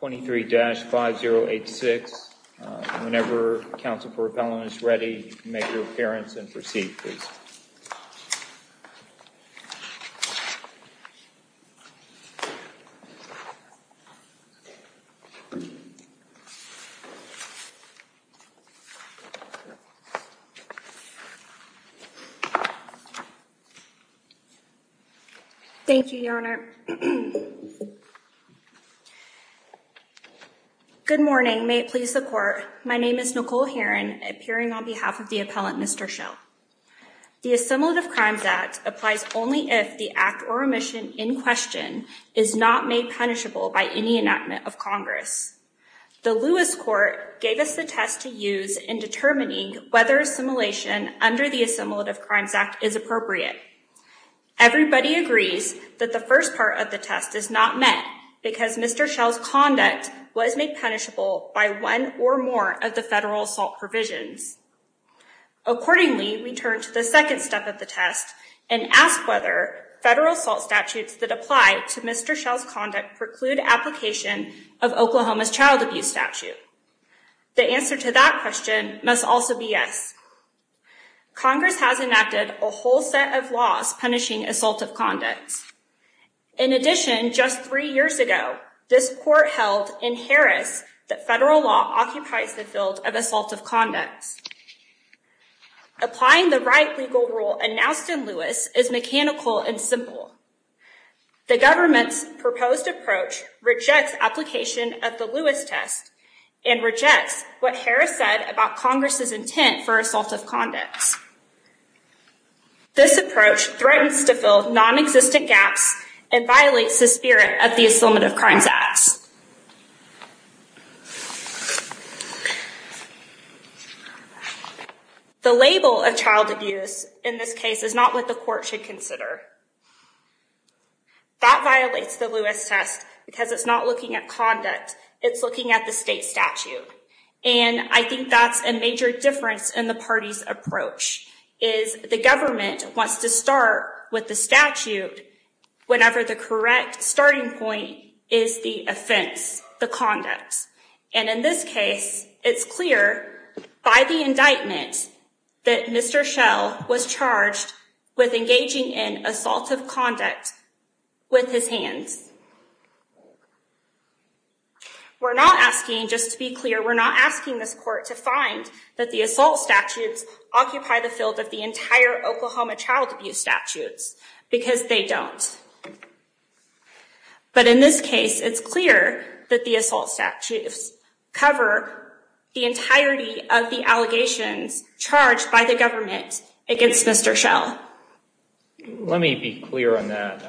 23-5086. Whenever counsel for repellent is ready, you can make your appearance and proceed, please. Thank you, your honor. Good morning, may it please the court. My name is Nicole Heron, appearing on behalf of the appellant, Mr. Shell. The Assimilative Crimes Act applies only if the act or omission in question is not made punishable by any enactment of Congress. The Lewis Court gave us the test to use in determining whether assimilation under the Assimilative Crimes Act is appropriate. Everybody agrees that the first part of the test is not met because Mr. Shell's conduct was made punishable by one or more of the federal assault provisions. Accordingly, we turn to the second step of the test and ask whether federal assault statutes that apply to Mr. Shell's conduct preclude application of Oklahoma's child abuse statute. The answer to that question must also be yes. Congress has enacted a whole set of laws punishing assaultive conducts. In addition, just three years ago, this court held in Harris that federal law occupies the field of assaultive conducts. Applying the right legal rule announced in Lewis is mechanical and simple. The government's proposed approach rejects application of the Lewis test and rejects what Harris said about Congress's intent for assaultive conducts. This approach threatens to fill non-existent gaps and violates the spirit of the Assimilative Crimes Act. The label of child abuse in this case is not what the court should consider. That violates the Lewis test because it's not looking at conduct, it's looking at the state statute. And I think that's a major difference in the party's approach, is the government wants to start with the statute whenever the correct starting point is the offense, the conduct. And in this case, it's clear by the indictment that Mr. Shell was charged with engaging in We're not asking this court to find that the assault statutes occupy the field of the entire Oklahoma child abuse statutes because they don't. But in this case, it's clear that the assault statutes cover the entirety of the allegations charged by the government against Mr. Shell. Let me be clear on that.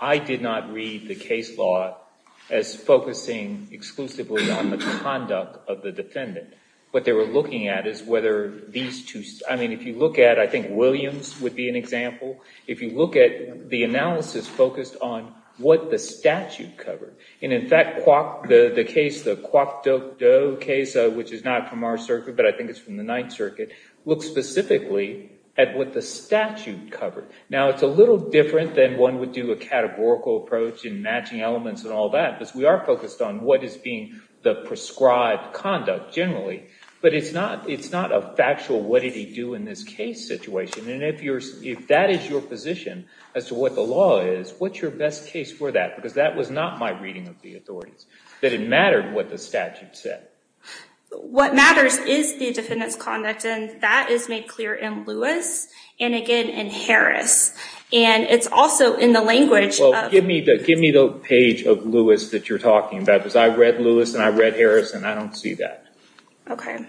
I did not read the case law as focusing exclusively on the conduct of the defendant. What they were looking at is whether these two, I mean, if you look at, I think, Williams would be an example. If you look at the analysis focused on what the statute covered, and in fact, the case, the Kwok Doe case, which is not from our circuit, but I think it's from the Ninth Circuit, looks specifically at what the statute covered. Now, it's a little different than one would do a categorical approach in matching elements and all that because we are focused on what is being the prescribed conduct generally. But it's not a factual what did he do in this case situation. And if that is your position as to what the law is, what's your best case for that? Because that was not my reading of the authorities, that it mattered what the statute said. What matters is the defendant's conduct, and that is made clear in Lewis and again in Harris. And it's also in the language... Well, give me the page of Lewis that you're talking about because I read Lewis and I read Harris and I don't see that. Okay.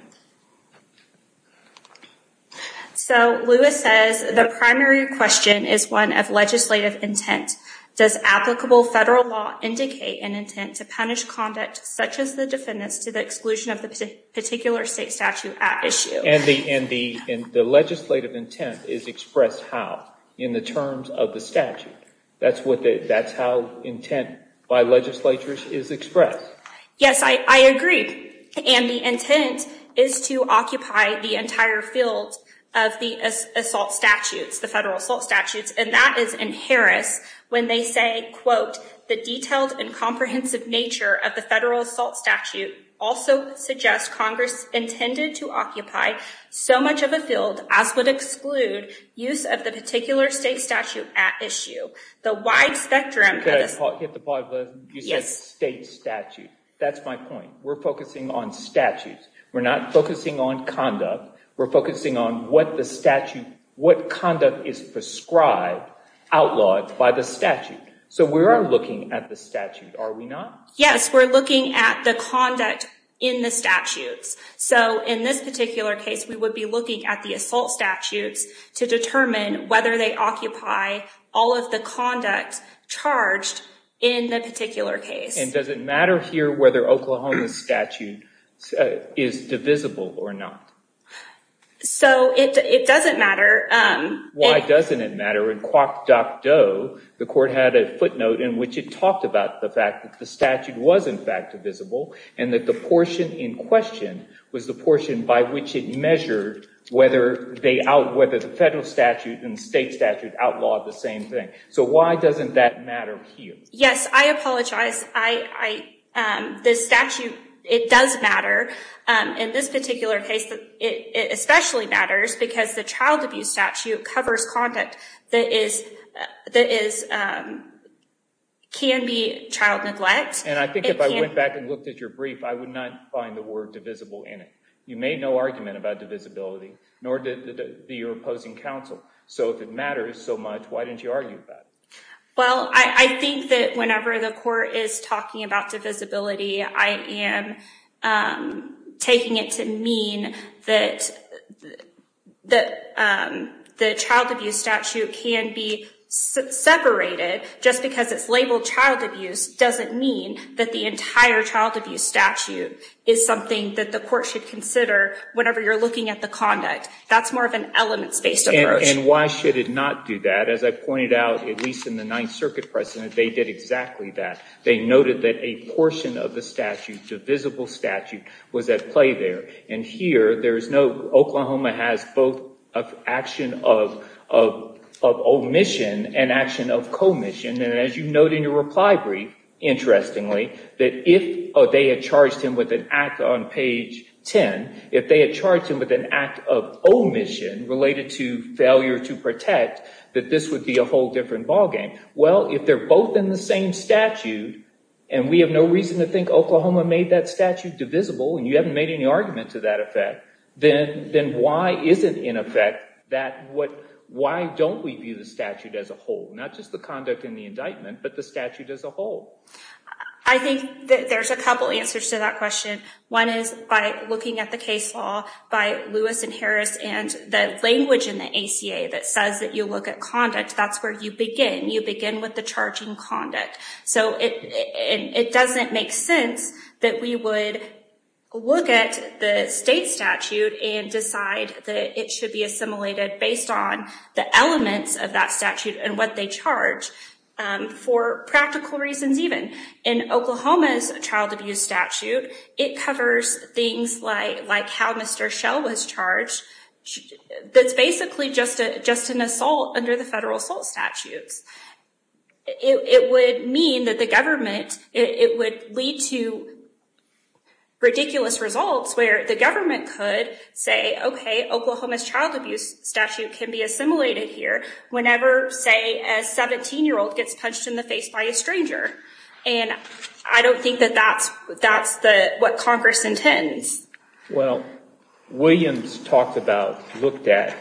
So, Lewis says, the primary question is one of legislative intent. Does applicable federal law indicate an intent to punish conduct such as the defendant's to the exclusion of the particular state statute at issue? And the legislative intent is expressed how? In the terms of the statute. That's how intent by legislatures is expressed. Yes, I agree. And the intent is to occupy the entire field of the assault statutes, the federal assault statutes, and that is in Harris when they say, quote, the detailed and comprehensive nature of the federal assault statute also suggests Congress intended to occupy so much of a field as would exclude use of the particular state statute at issue. The wide spectrum... Can I hit the part where you said state statute? That's my point. We're focusing on statutes. We're not focusing on conduct. We're focusing on what the statute, what conduct is prescribed, outlawed by the statute. So, we are looking at the statute, are we not? Yes, we're looking at the conduct in the statutes. So, in this particular case, we would be looking at the assault statutes to determine whether they occupy all of the conduct charged in the particular case. And does it matter here whether Oklahoma's statute is divisible or not? So, it doesn't matter. Why doesn't it matter? In Kwok Dok Do, the court had a footnote in which it talked about the fact that the statute was, in fact, divisible and that the portion in question was the portion by which it measured whether the federal statute and state statute outlawed the same thing. So, why doesn't that Yes, I apologize. This statute, it does matter. In this particular case, it especially matters because the child abuse statute covers conduct that can be child neglect. And I think if I went back and looked at your brief, I would not find the word divisible in it. You made no argument about divisibility, nor did your opposing counsel. So, if it matters so much, why didn't you argue that? Well, I think that whenever the court is talking about divisibility, I am taking it to mean that the child abuse statute can be separated just because it's labeled child abuse doesn't mean that the entire child abuse statute is something that the court should consider whenever you're looking at the conduct. That's more of an elements-based approach. And why should not do that? As I pointed out, at least in the Ninth Circuit precedent, they did exactly that. They noted that a portion of the statute, the visible statute, was at play there. And here, there is no, Oklahoma has both of action of omission and action of commission. And as you note in your reply brief, interestingly, that if they had charged him with an act on page 10, if they had charged him with an act of omission related to failure to protect, that this would be a whole different ballgame. Well, if they're both in the same statute, and we have no reason to think Oklahoma made that statute divisible, and you haven't made any argument to that effect, then why is it, in effect, that what, why don't we view the statute as a whole? Not just the conduct in the indictment, but the statute as a whole. I think that there's a couple answers to that question. One is by looking at the case law by Lewis and Harris and the language in the ACA that says that you look at conduct, that's where you begin. You begin with the charging conduct. So it doesn't make sense that we would look at the state statute and decide that it should be assimilated based on the elements of that statute and what they charge for practical reasons even. In Oklahoma's child abuse statute, it covers things like how Mr. Schell was charged. That's basically just an assault under the federal assault statutes. It would mean that the government, it would lead to ridiculous results where the government could say, okay, Oklahoma's child abuse statute can be assimilated here whenever, say, a 17-year-old gets punched in the face by a stranger. And I don't think that that's what Congress intends. Well, Williams talked about, looked at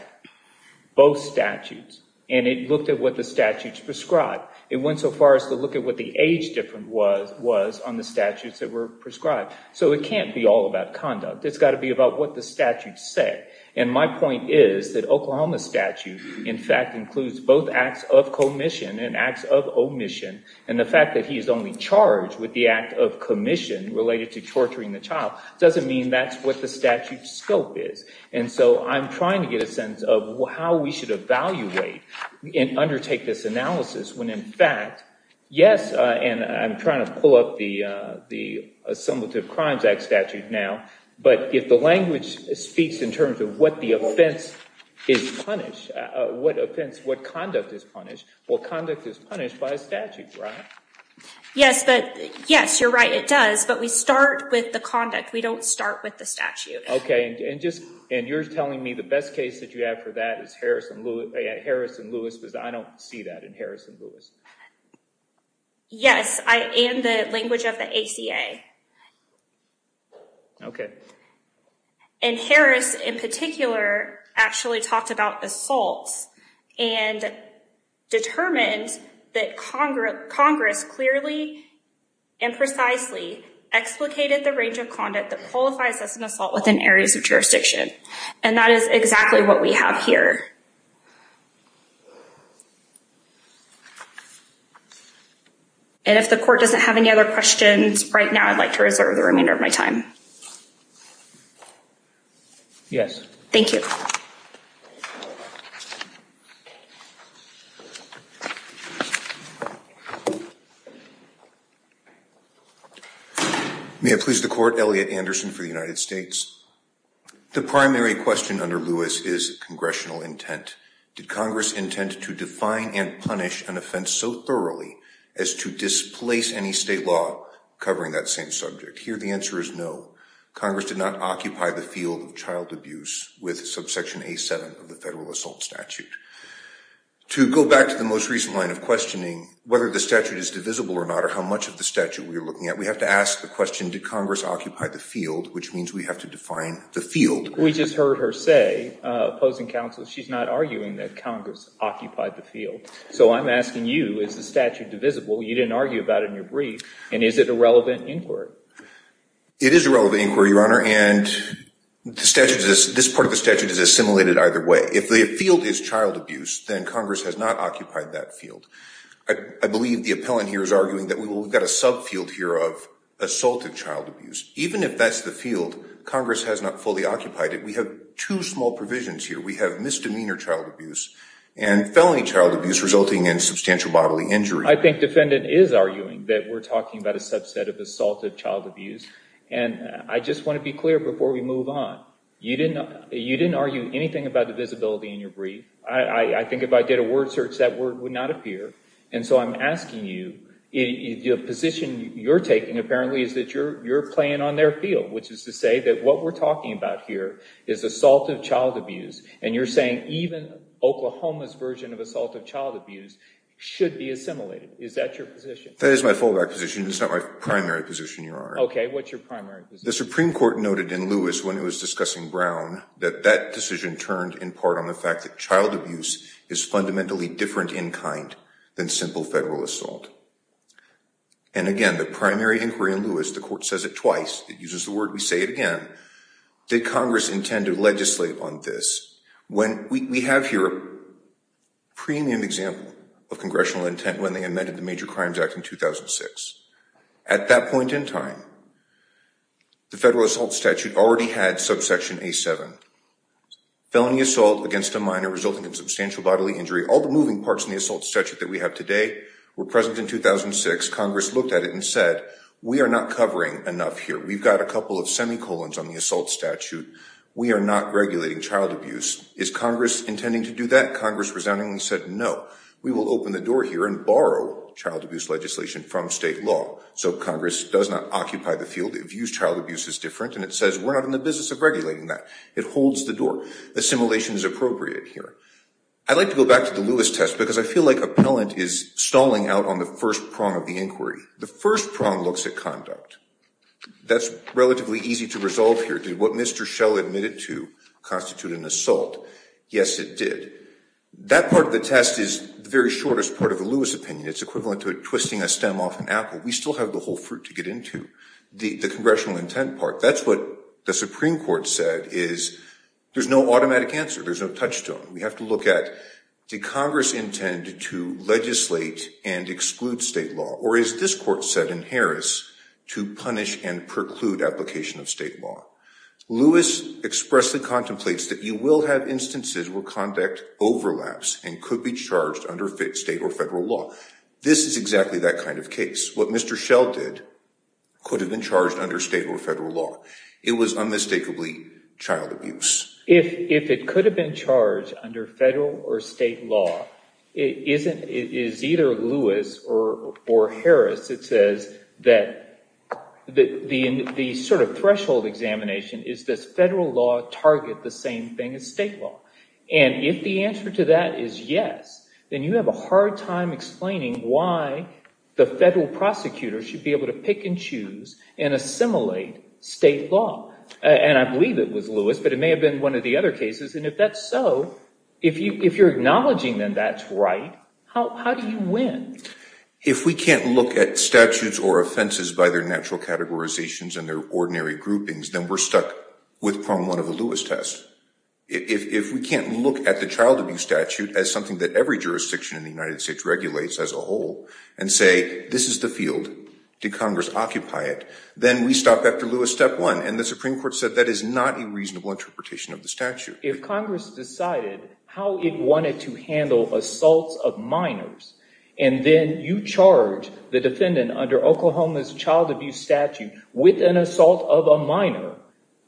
both statutes, and it looked at what the statutes prescribed. It went so far as to look at what the age difference was on the statutes that were prescribed. So it can't be all about conduct. It's got to be about what the statutes say. And my point is that Oklahoma's statute, in fact, includes both acts of commission and acts of omission. And the fact that he is only charged with the act of commission related to torturing the child doesn't mean that's what the statute's scope is. And so I'm trying to get a sense of how we should evaluate and undertake this analysis when, in fact, yes, and I'm trying to pull up the Assemblative Crimes Act statute now, but if the language speaks in terms of what the offense is punished, what offense, what conduct is punished, well, conduct is punished by a statute, right? Yes, but yes, you're right, it does. But we start with the conduct. We don't start with the statute. Okay, and just, and you're telling me the best case that you have for that is Harris and Lewis, because I don't see that in Harris and Lewis. Yes, and the language of the ACA. Okay. And Harris, in particular, actually talked about assaults and determined that Congress clearly and precisely explicated the range of conduct that qualifies as an assault within areas of jurisdiction. And that is exactly what we have here. And if the court doesn't have any other questions right now, I'd like to reserve the remainder of my time. Yes. Thank you. May it please the Court, Elliot Anderson for the United States. The primary question under Lewis is congressional intent. Did Congress intend to define and punish an offense so thoroughly as to displace any state law covering that same subject? Here, the answer is no. Congress did not occupy the field of child abuse with subsection A7 of the Constitution. So, the question is, did Congress occupy the field of child abuse with subsection A7 of the Federal Assault Statute? To go back to the most recent line of questioning, whether the statute is divisible or not, or how much of the statute we are looking at, we have to ask the question, did Congress occupy the field, which means we have to define the field. We just heard her say, opposing counsel, she's not arguing that Congress occupied the field. So I'm asking you, is the statute divisible? You didn't argue about it in your brief. And is it a relevant inquiry? It is a relevant inquiry, Your Honor, and this part of the statute is assimilated either way. If the field is child abuse, then Congress has not occupied that field. I believe the appellant here is arguing that we've got a subfield here of assaulted child abuse. Even if that's the field, Congress has not fully occupied it. We have two small provisions here. We have misdemeanor child abuse and felony child abuse resulting in substantial bodily injury. I think the defendant is arguing that we're talking about a subset of assaulted child abuse, and I just want to be clear before we move on. You didn't argue anything about divisibility in your brief. I think if I did a word search, that word would not appear. And so I'm asking you, the position you're taking apparently is that you're playing on their field, which is to say that what we're talking about here is assaulted child abuse, and you're saying even Oklahoma's version of assaulted child abuse should be assimilated. Is that your position? That is my fallback position. It's not my primary position, Your Honor. Okay, what's your primary position? The Supreme Court noted in Lewis when it was discussing Brown that that decision turned in part on the fact that child abuse is fundamentally different in kind than simple federal assault. And again, the primary inquiry in Lewis, the court says it twice, it uses the word, we say it again, did Congress intend to legislate on this? We have here a premium example of congressional intent when they amended the Major Crimes Act in 2006. At that point in time, the federal assault statute already had subsection A7, felony assault against a minor resulting in substantial bodily injury. All the moving parts in the assault statute that we have today were present in 2006. Congress looked at it and said, we are not covering enough here. We've got a couple of semicolons on the assault statute. We are not regulating child abuse. Is Congress intending to do that? Congress resoundingly said, no, we will open the door here and borrow child abuse legislation from state law. So Congress does not occupy the field. It views child abuse as different, and it says we're not in the business of regulating that. It holds the door. Assimilation is appropriate here. I'd like to go back to the Lewis test because I feel like appellant is stalling out on the first prong of the inquiry. The first prong looks at conduct. That's relatively easy to resolve here. Did what Mr. Schell admitted to constitute an assault? Yes, it did. That part of the test is the very shortest part of the Lewis opinion. It's equivalent to twisting a stem off an apple. We still have the whole fruit to get into. The congressional intent part, that's what the Supreme Court said is there's no automatic answer. There's no touchstone. We have to look at did Congress intend to legislate and exclude state law, or as this court said in Harris, to punish and preclude application of state law. Lewis expressly contemplates that you will have instances where conduct overlaps and could be charged under state or federal law. This is exactly that kind of case. What Mr. Schell did could have been charged under state or federal law. It was unmistakably child abuse. If it could have been charged under federal or state law, it is either Lewis or Harris. It says that the sort of threshold examination is does federal law target the same thing as state law? And if the answer to that is yes, then you have a hard time explaining why the federal prosecutor should be able to pick and choose and assimilate state law. And I believe it was Lewis, but it may have been one of the other cases. And if that's so, if you're acknowledging then that's right, how do you win? If we can't look at statutes or offenses by their natural categorizations and their ordinary groupings, then we're stuck with problem one of the Lewis test. If we can't look at the child abuse statute as something that every jurisdiction in the United States regulates as a whole and say this is the field, did Congress occupy it, then we stop after Lewis step one. And the Supreme Court said that is not a reasonable interpretation of the statute. If Congress decided how it wanted to handle assaults of minors and then you charge the defendant under Oklahoma's child abuse statute with an assault of a minor,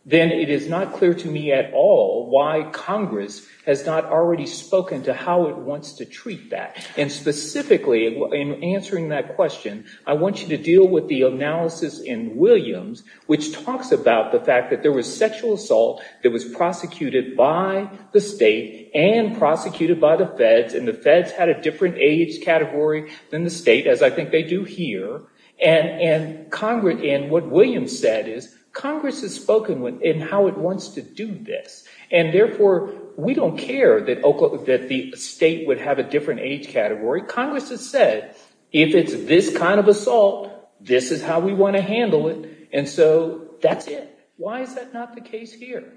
then it is not clear to me at all why Congress has not already spoken to how it wants to treat that. And specifically in answering that question, I want you to deal with the analysis in Williams, which talks about the fact that there was sexual assault that was prosecuted by the state and prosecuted by the feds, and the feds had a different age category than the state, as I think they do here. And what Williams said is Congress has spoken in how it wants to do this. And therefore, we don't care that the state would have a different age category. Congress has said if it's this kind of assault, this is how we want to handle it. And so that's it. Why is that not the case here?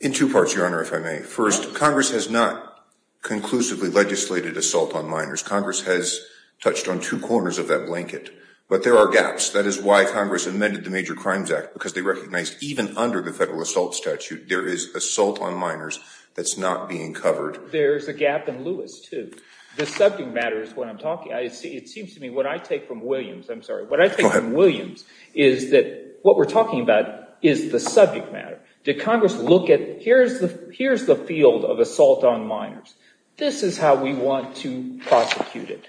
In two parts, Your Honor, if I may. First, Congress has not conclusively legislated assault on minors. Congress has touched on two corners of that blanket. But there are gaps. Yes, that is why Congress amended the Major Crimes Act, because they recognized even under the federal assault statute, there is assault on minors that's not being covered. There's a gap in Lewis, too. The subject matter is what I'm talking about. It seems to me what I take from Williams, I'm sorry, what I take from Williams is that what we're talking about is the subject matter. Did Congress look at here's the field of assault on minors. This is how we want to prosecute it,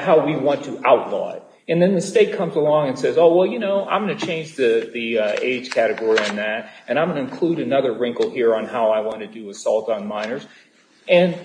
how we want to outlaw it. And then the state comes along and says, oh, well, you know, I'm going to change the age category on that, and I'm going to include another wrinkle here on how I want to do assault on minors. And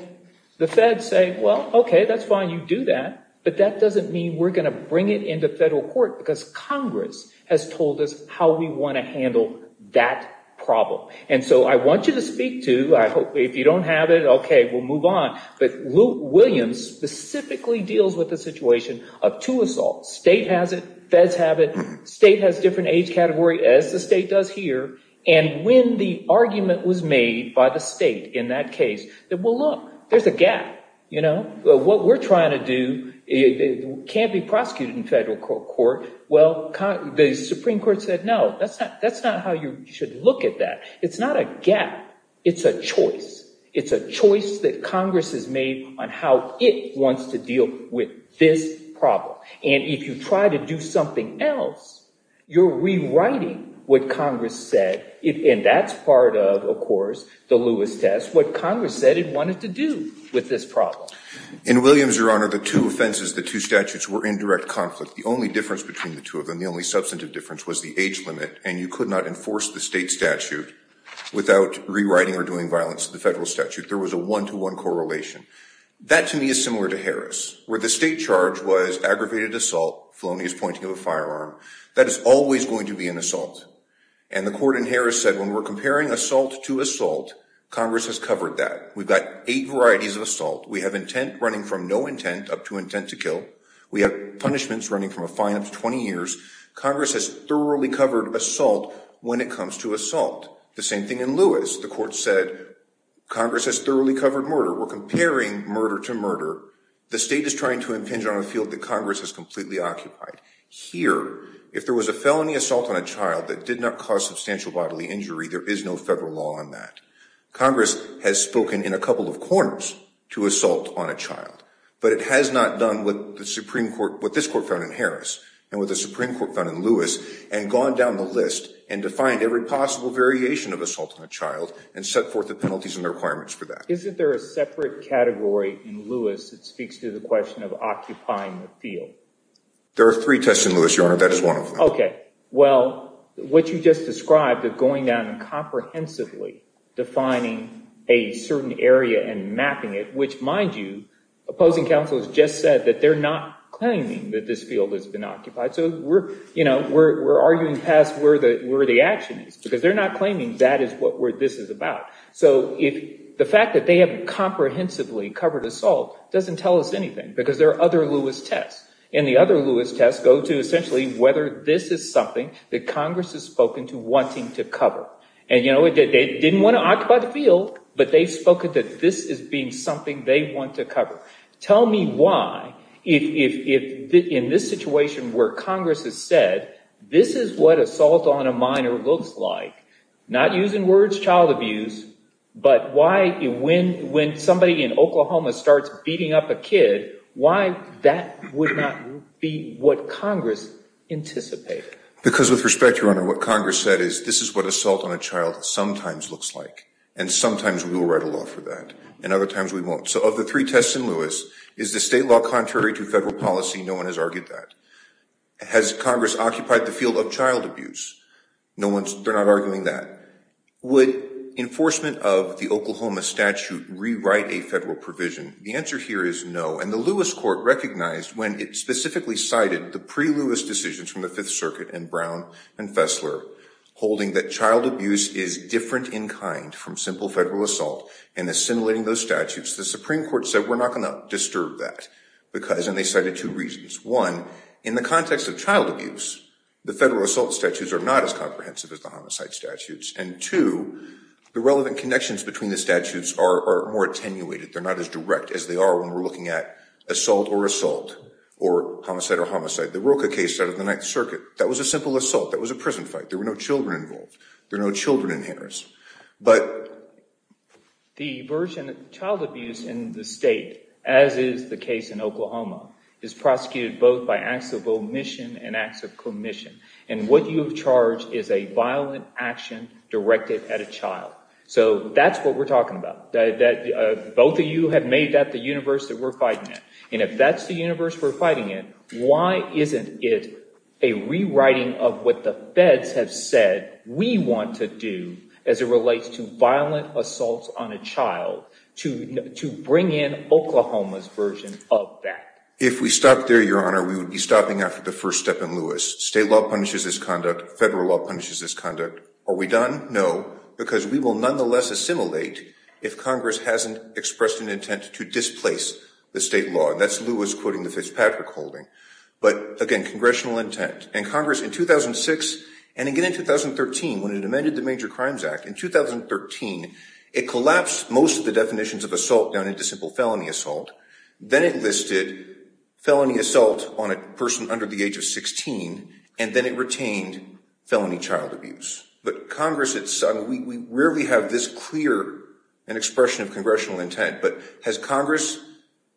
the feds say, well, okay, that's fine, you do that. But that doesn't mean we're going to bring it into federal court, because Congress has told us how we want to handle that problem. And so I want you to speak to, if you don't have it, okay, we'll move on. But Williams specifically deals with the situation of two assaults. State has it. Feds have it. State has different age category, as the state does here. And when the argument was made by the state in that case that, well, look, there's a gap, you know. What we're trying to do can't be prosecuted in federal court. Well, the Supreme Court said, no, that's not how you should look at that. It's not a gap. It's a choice. It's a choice that Congress has made on how it wants to deal with this problem. And if you try to do something else, you're rewriting what Congress said, and that's part of, of course, the Lewis test, what Congress said it wanted to do with this problem. In Williams, Your Honor, the two offenses, the two statutes were in direct conflict. The only difference between the two of them, the only substantive difference, was the age limit, and you could not enforce the state statute without rewriting or doing violence to the federal statute. There was a one-to-one correlation. That, to me, is similar to Harris, where the state charge was aggravated assault, felonious pointing of a firearm. That is always going to be an assault. And the court in Harris said, when we're comparing assault to assault, Congress has covered that. We've got eight varieties of assault. We have intent running from no intent up to intent to kill. We have punishments running from a fine up to 20 years. Congress has thoroughly covered assault when it comes to assault. The same thing in Lewis. The court said, Congress has thoroughly covered murder. We're comparing murder to murder. The state is trying to impinge on a field that Congress has completely occupied. Here, if there was a felony assault on a child that did not cause substantial bodily injury, there is no federal law on that. But it has not done what this court found in Harris and what the Supreme Court found in Lewis and gone down the list and defined every possible variation of assault on a child and set forth the penalties and the requirements for that. Isn't there a separate category in Lewis that speaks to the question of occupying the field? There are three tests in Lewis, Your Honor. That is one of them. Okay. Well, what you just described of going down and comprehensively defining a certain area and mapping it, which, mind you, opposing counsel has just said that they're not claiming that this field has been occupied. So we're arguing past where the action is because they're not claiming that is what this is about. So the fact that they have comprehensively covered assault doesn't tell us anything because there are other Lewis tests. And the other Lewis tests go to essentially whether this is something that Congress has spoken to wanting to cover. And, you know, they didn't want to occupy the field, but they've spoken that this is being something they want to cover. Tell me why, if in this situation where Congress has said this is what assault on a minor looks like, not using words, child abuse, but why when somebody in Oklahoma starts beating up a kid, why that would not be what Congress anticipated? Because with respect, Your Honor, what Congress said is this is what assault on a child sometimes looks like, and sometimes we will write a law for that, and other times we won't. So of the three tests in Lewis, is the state law contrary to federal policy? No one has argued that. Has Congress occupied the field of child abuse? No one's – they're not arguing that. Would enforcement of the Oklahoma statute rewrite a federal provision? The answer here is no. And the Lewis court recognized when it specifically cited the pre-Lewis decisions from the Fifth Circuit and Brown and Fessler, holding that child abuse is different in kind from simple federal assault and assimilating those statutes, the Supreme Court said we're not going to disturb that because – and they cited two reasons. One, in the context of child abuse, the federal assault statutes are not as comprehensive as the homicide statutes. And two, the relevant connections between the statutes are more attenuated. They're not as direct as they are when we're looking at assault or assault or homicide or homicide. The Roka case out of the Ninth Circuit, that was a simple assault. That was a prison fight. There were no children involved. There are no children in Harris. But the version of child abuse in the state, as is the case in Oklahoma, is prosecuted both by acts of omission and acts of commission. And what you have charged is a violent action directed at a child. So that's what we're talking about. Both of you have made that the universe that we're fighting in. And if that's the universe we're fighting in, why isn't it a rewriting of what the feds have said we want to do as it relates to violent assaults on a child to bring in Oklahoma's version of that? If we stop there, Your Honor, we would be stopping after the first step in Lewis. State law punishes this conduct. Federal law punishes this conduct. Are we done? No. Because we will nonetheless assimilate if Congress hasn't expressed an intent to displace the state law. And that's Lewis quoting the Fitzpatrick holding. But, again, congressional intent. And Congress in 2006 and again in 2013, when it amended the Major Crimes Act, in 2013 it collapsed most of the definitions of assault down into simple felony assault. Then it listed felony assault on a person under the age of 16. And then it retained felony child abuse. But Congress, we rarely have this clear an expression of congressional intent. But has Congress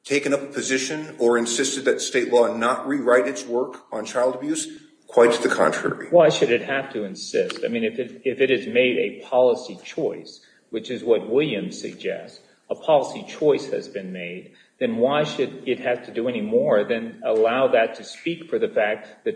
taken up a position or insisted that state law not rewrite its work on child abuse? Quite to the contrary. Why should it have to insist? I mean, if it has made a policy choice, which is what Williams suggests, a policy choice has been made, then why should it have to do any more than allow that to speak for the fact that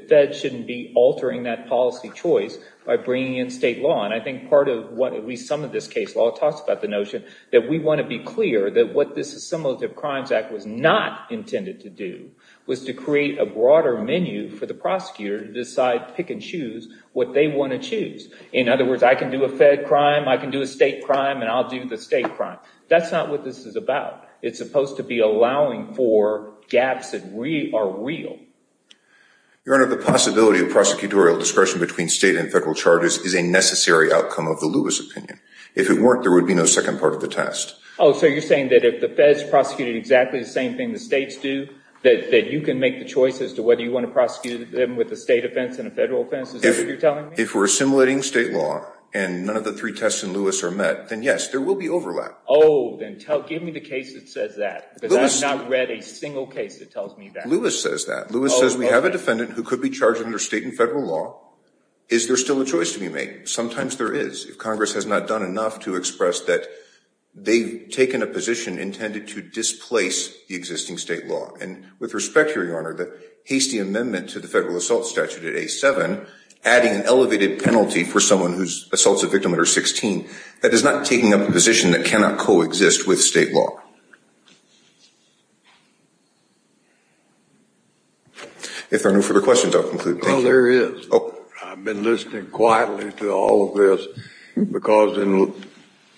And I think part of what at least some of this case law talks about the notion that we want to be clear that what this Assimilative Crimes Act was not intended to do was to create a broader menu for the prosecutor to decide, pick and choose, what they want to choose. In other words, I can do a fed crime, I can do a state crime, and I'll do the state crime. That's not what this is about. It's supposed to be allowing for gaps that are real. Your Honor, the possibility of prosecutorial discretion between state and federal charges is a necessary outcome of the Lewis opinion. If it weren't, there would be no second part of the test. Oh, so you're saying that if the feds prosecuted exactly the same thing the states do, that you can make the choice as to whether you want to prosecute them with a state offense and a federal offense? Is that what you're telling me? If we're assimilating state law and none of the three tests in Lewis are met, then yes, there will be overlap. Oh, then give me the case that says that, because I've not read a single case that tells me that. Lewis says that. Lewis says we have a defendant who could be charged under state and federal law. Is there still a choice to be made? Sometimes there is, if Congress has not done enough to express that they've taken a position intended to displace the existing state law. And with respect here, Your Honor, the hasty amendment to the federal assault statute at A7, adding an elevated penalty for someone who assaults a victim under 16, that is not taking up a position that cannot coexist with state law. If there are no further questions, I'll conclude. Well, there is. I've been listening quietly to all of this, because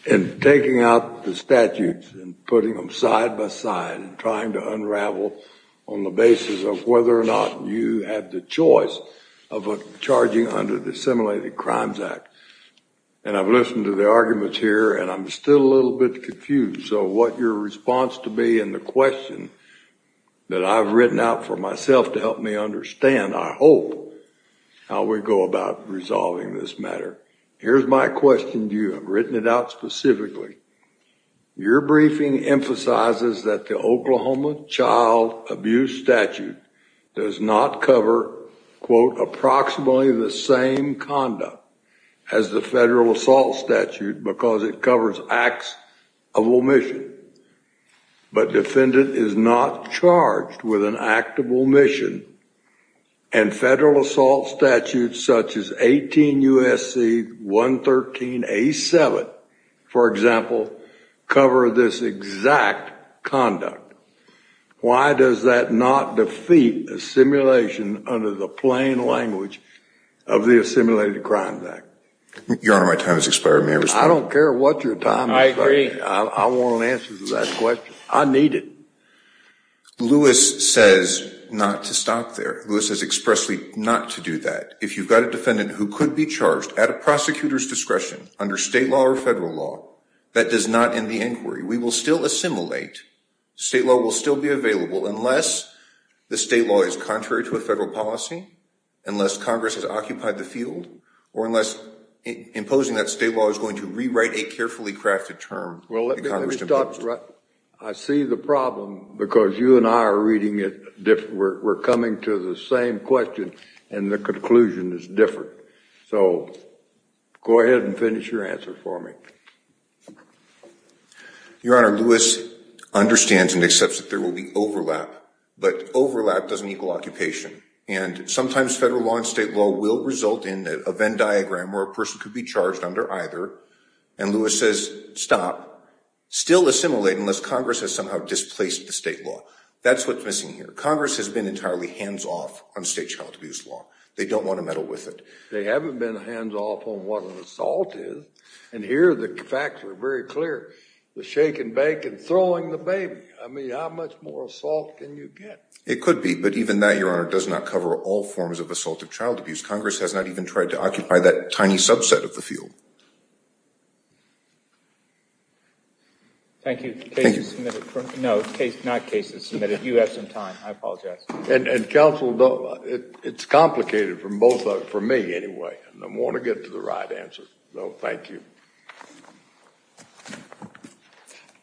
in taking out the statutes and putting them side by side, trying to unravel on the basis of whether or not you have the choice of charging under the Assimilated Crimes Act. And I've listened to the arguments here, and I'm still a little bit confused. So what your response to be in the question that I've written out for myself to help me understand, I hope, how we go about resolving this matter. Here's my question to you. I've written it out specifically. Your briefing emphasizes that the Oklahoma child abuse statute does not cover, quote, approximately the same conduct as the federal assault statute because it covers acts of omission. But defendant is not charged with an act of omission, and federal assault statutes such as 18 U.S.C. 113 A7, for example, cover this exact conduct. Why does that not defeat assimilation under the plain language of the Assimilated Crimes Act? Your Honor, my time has expired. May I respond? I don't care what your time is. I agree. I want an answer to that question. I need it. Lewis says not to stop there. Lewis has expressly not to do that. If you've got a defendant who could be charged at a prosecutor's discretion under state law or federal law, that does not end the inquiry. We will still assimilate. State law will still be available unless the state law is contrary to a federal policy, unless Congress has occupied the field, or unless imposing that state law is going to rewrite a carefully crafted term. Well, let me stop. I see the problem because you and I are reading it different. We're coming to the same question, and the conclusion is different. So go ahead and finish your answer for me. Your Honor, Lewis understands and accepts that there will be overlap, but overlap doesn't equal occupation. And sometimes federal law and state law will result in a Venn diagram where a person could be charged under either, and Lewis says stop. Still assimilate unless Congress has somehow displaced the state law. That's what's missing here. Congress has been entirely hands-off on state child abuse law. They don't want to meddle with it. They haven't been hands-off on what an assault is, and here the facts are very clear, the shake and bake and throwing the baby. I mean, how much more assault can you get? It could be, but even that, Your Honor, does not cover all forms of assaultive child abuse. Congress has not even tried to occupy that tiny subset of the field. Thank you. Thank you. No, not cases submitted. You have some time. I apologize. And counsel, it's complicated for me anyway. I want to get to the right answer, so thank you.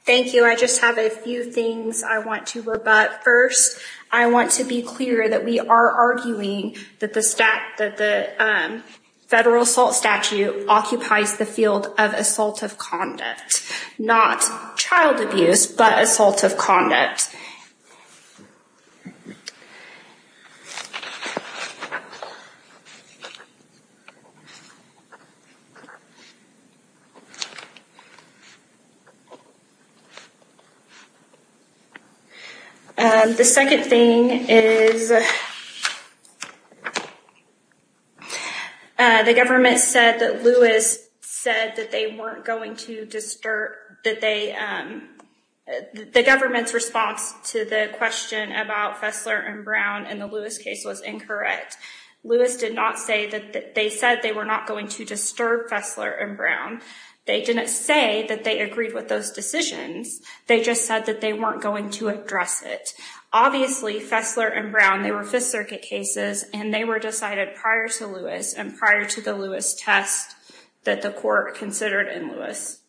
Thank you. I just have a few things I want to rebut. First, I want to be clear that we are arguing that the federal assault statute occupies the field of assaultive conduct, not child abuse, but assaultive conduct. Thank you for that. The second thing is the government said that Lewis said that they weren't going to disturb, that the government's response to the question about Fessler and Brown and the Lewis case was incorrect. Lewis did not say that they said they were not going to disturb Fessler and Brown. They didn't say that they agreed with those decisions. They just said that they weren't going to address it. Obviously, Fessler and Brown, they were Fifth Circuit cases, and they were decided prior to Lewis and prior to the Lewis test that the court considered in Lewis.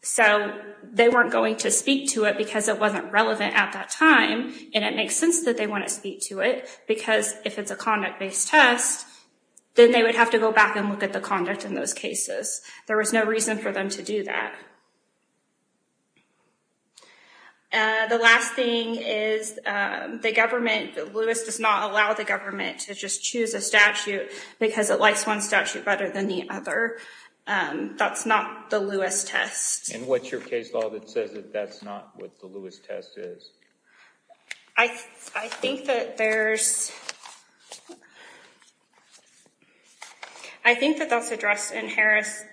So they weren't going to speak to it because it wasn't relevant at that time, and it makes sense that they want to speak to it, because if it's a conduct-based test, then they would have to go back and look at the conduct in those cases. There was no reason for them to do that. The last thing is the government, Lewis does not allow the government to just choose a statute because it likes one statute better than the other. That's not the Lewis test. And what's your case law that says that that's not what the Lewis test is? I think that there's, I think that that's addressed in Harris.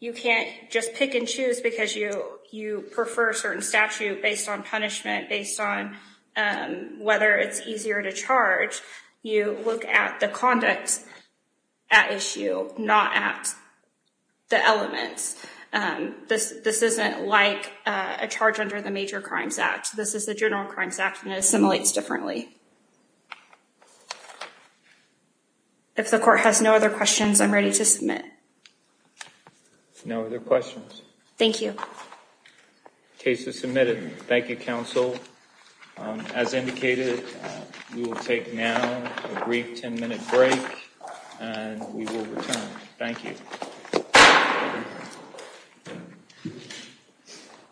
You can't just pick and choose because you prefer a certain statute based on punishment, based on whether it's easier to charge. You look at the conduct at issue, not at the elements. This isn't like a charge under the Major Crimes Act. This is the General Crimes Act, and it assimilates differently. If the court has no other questions, I'm ready to submit. No other questions. Thank you. Case is submitted. Thank you, Counsel. As indicated, we will take now a brief 10 minute break and we will return. Thank you.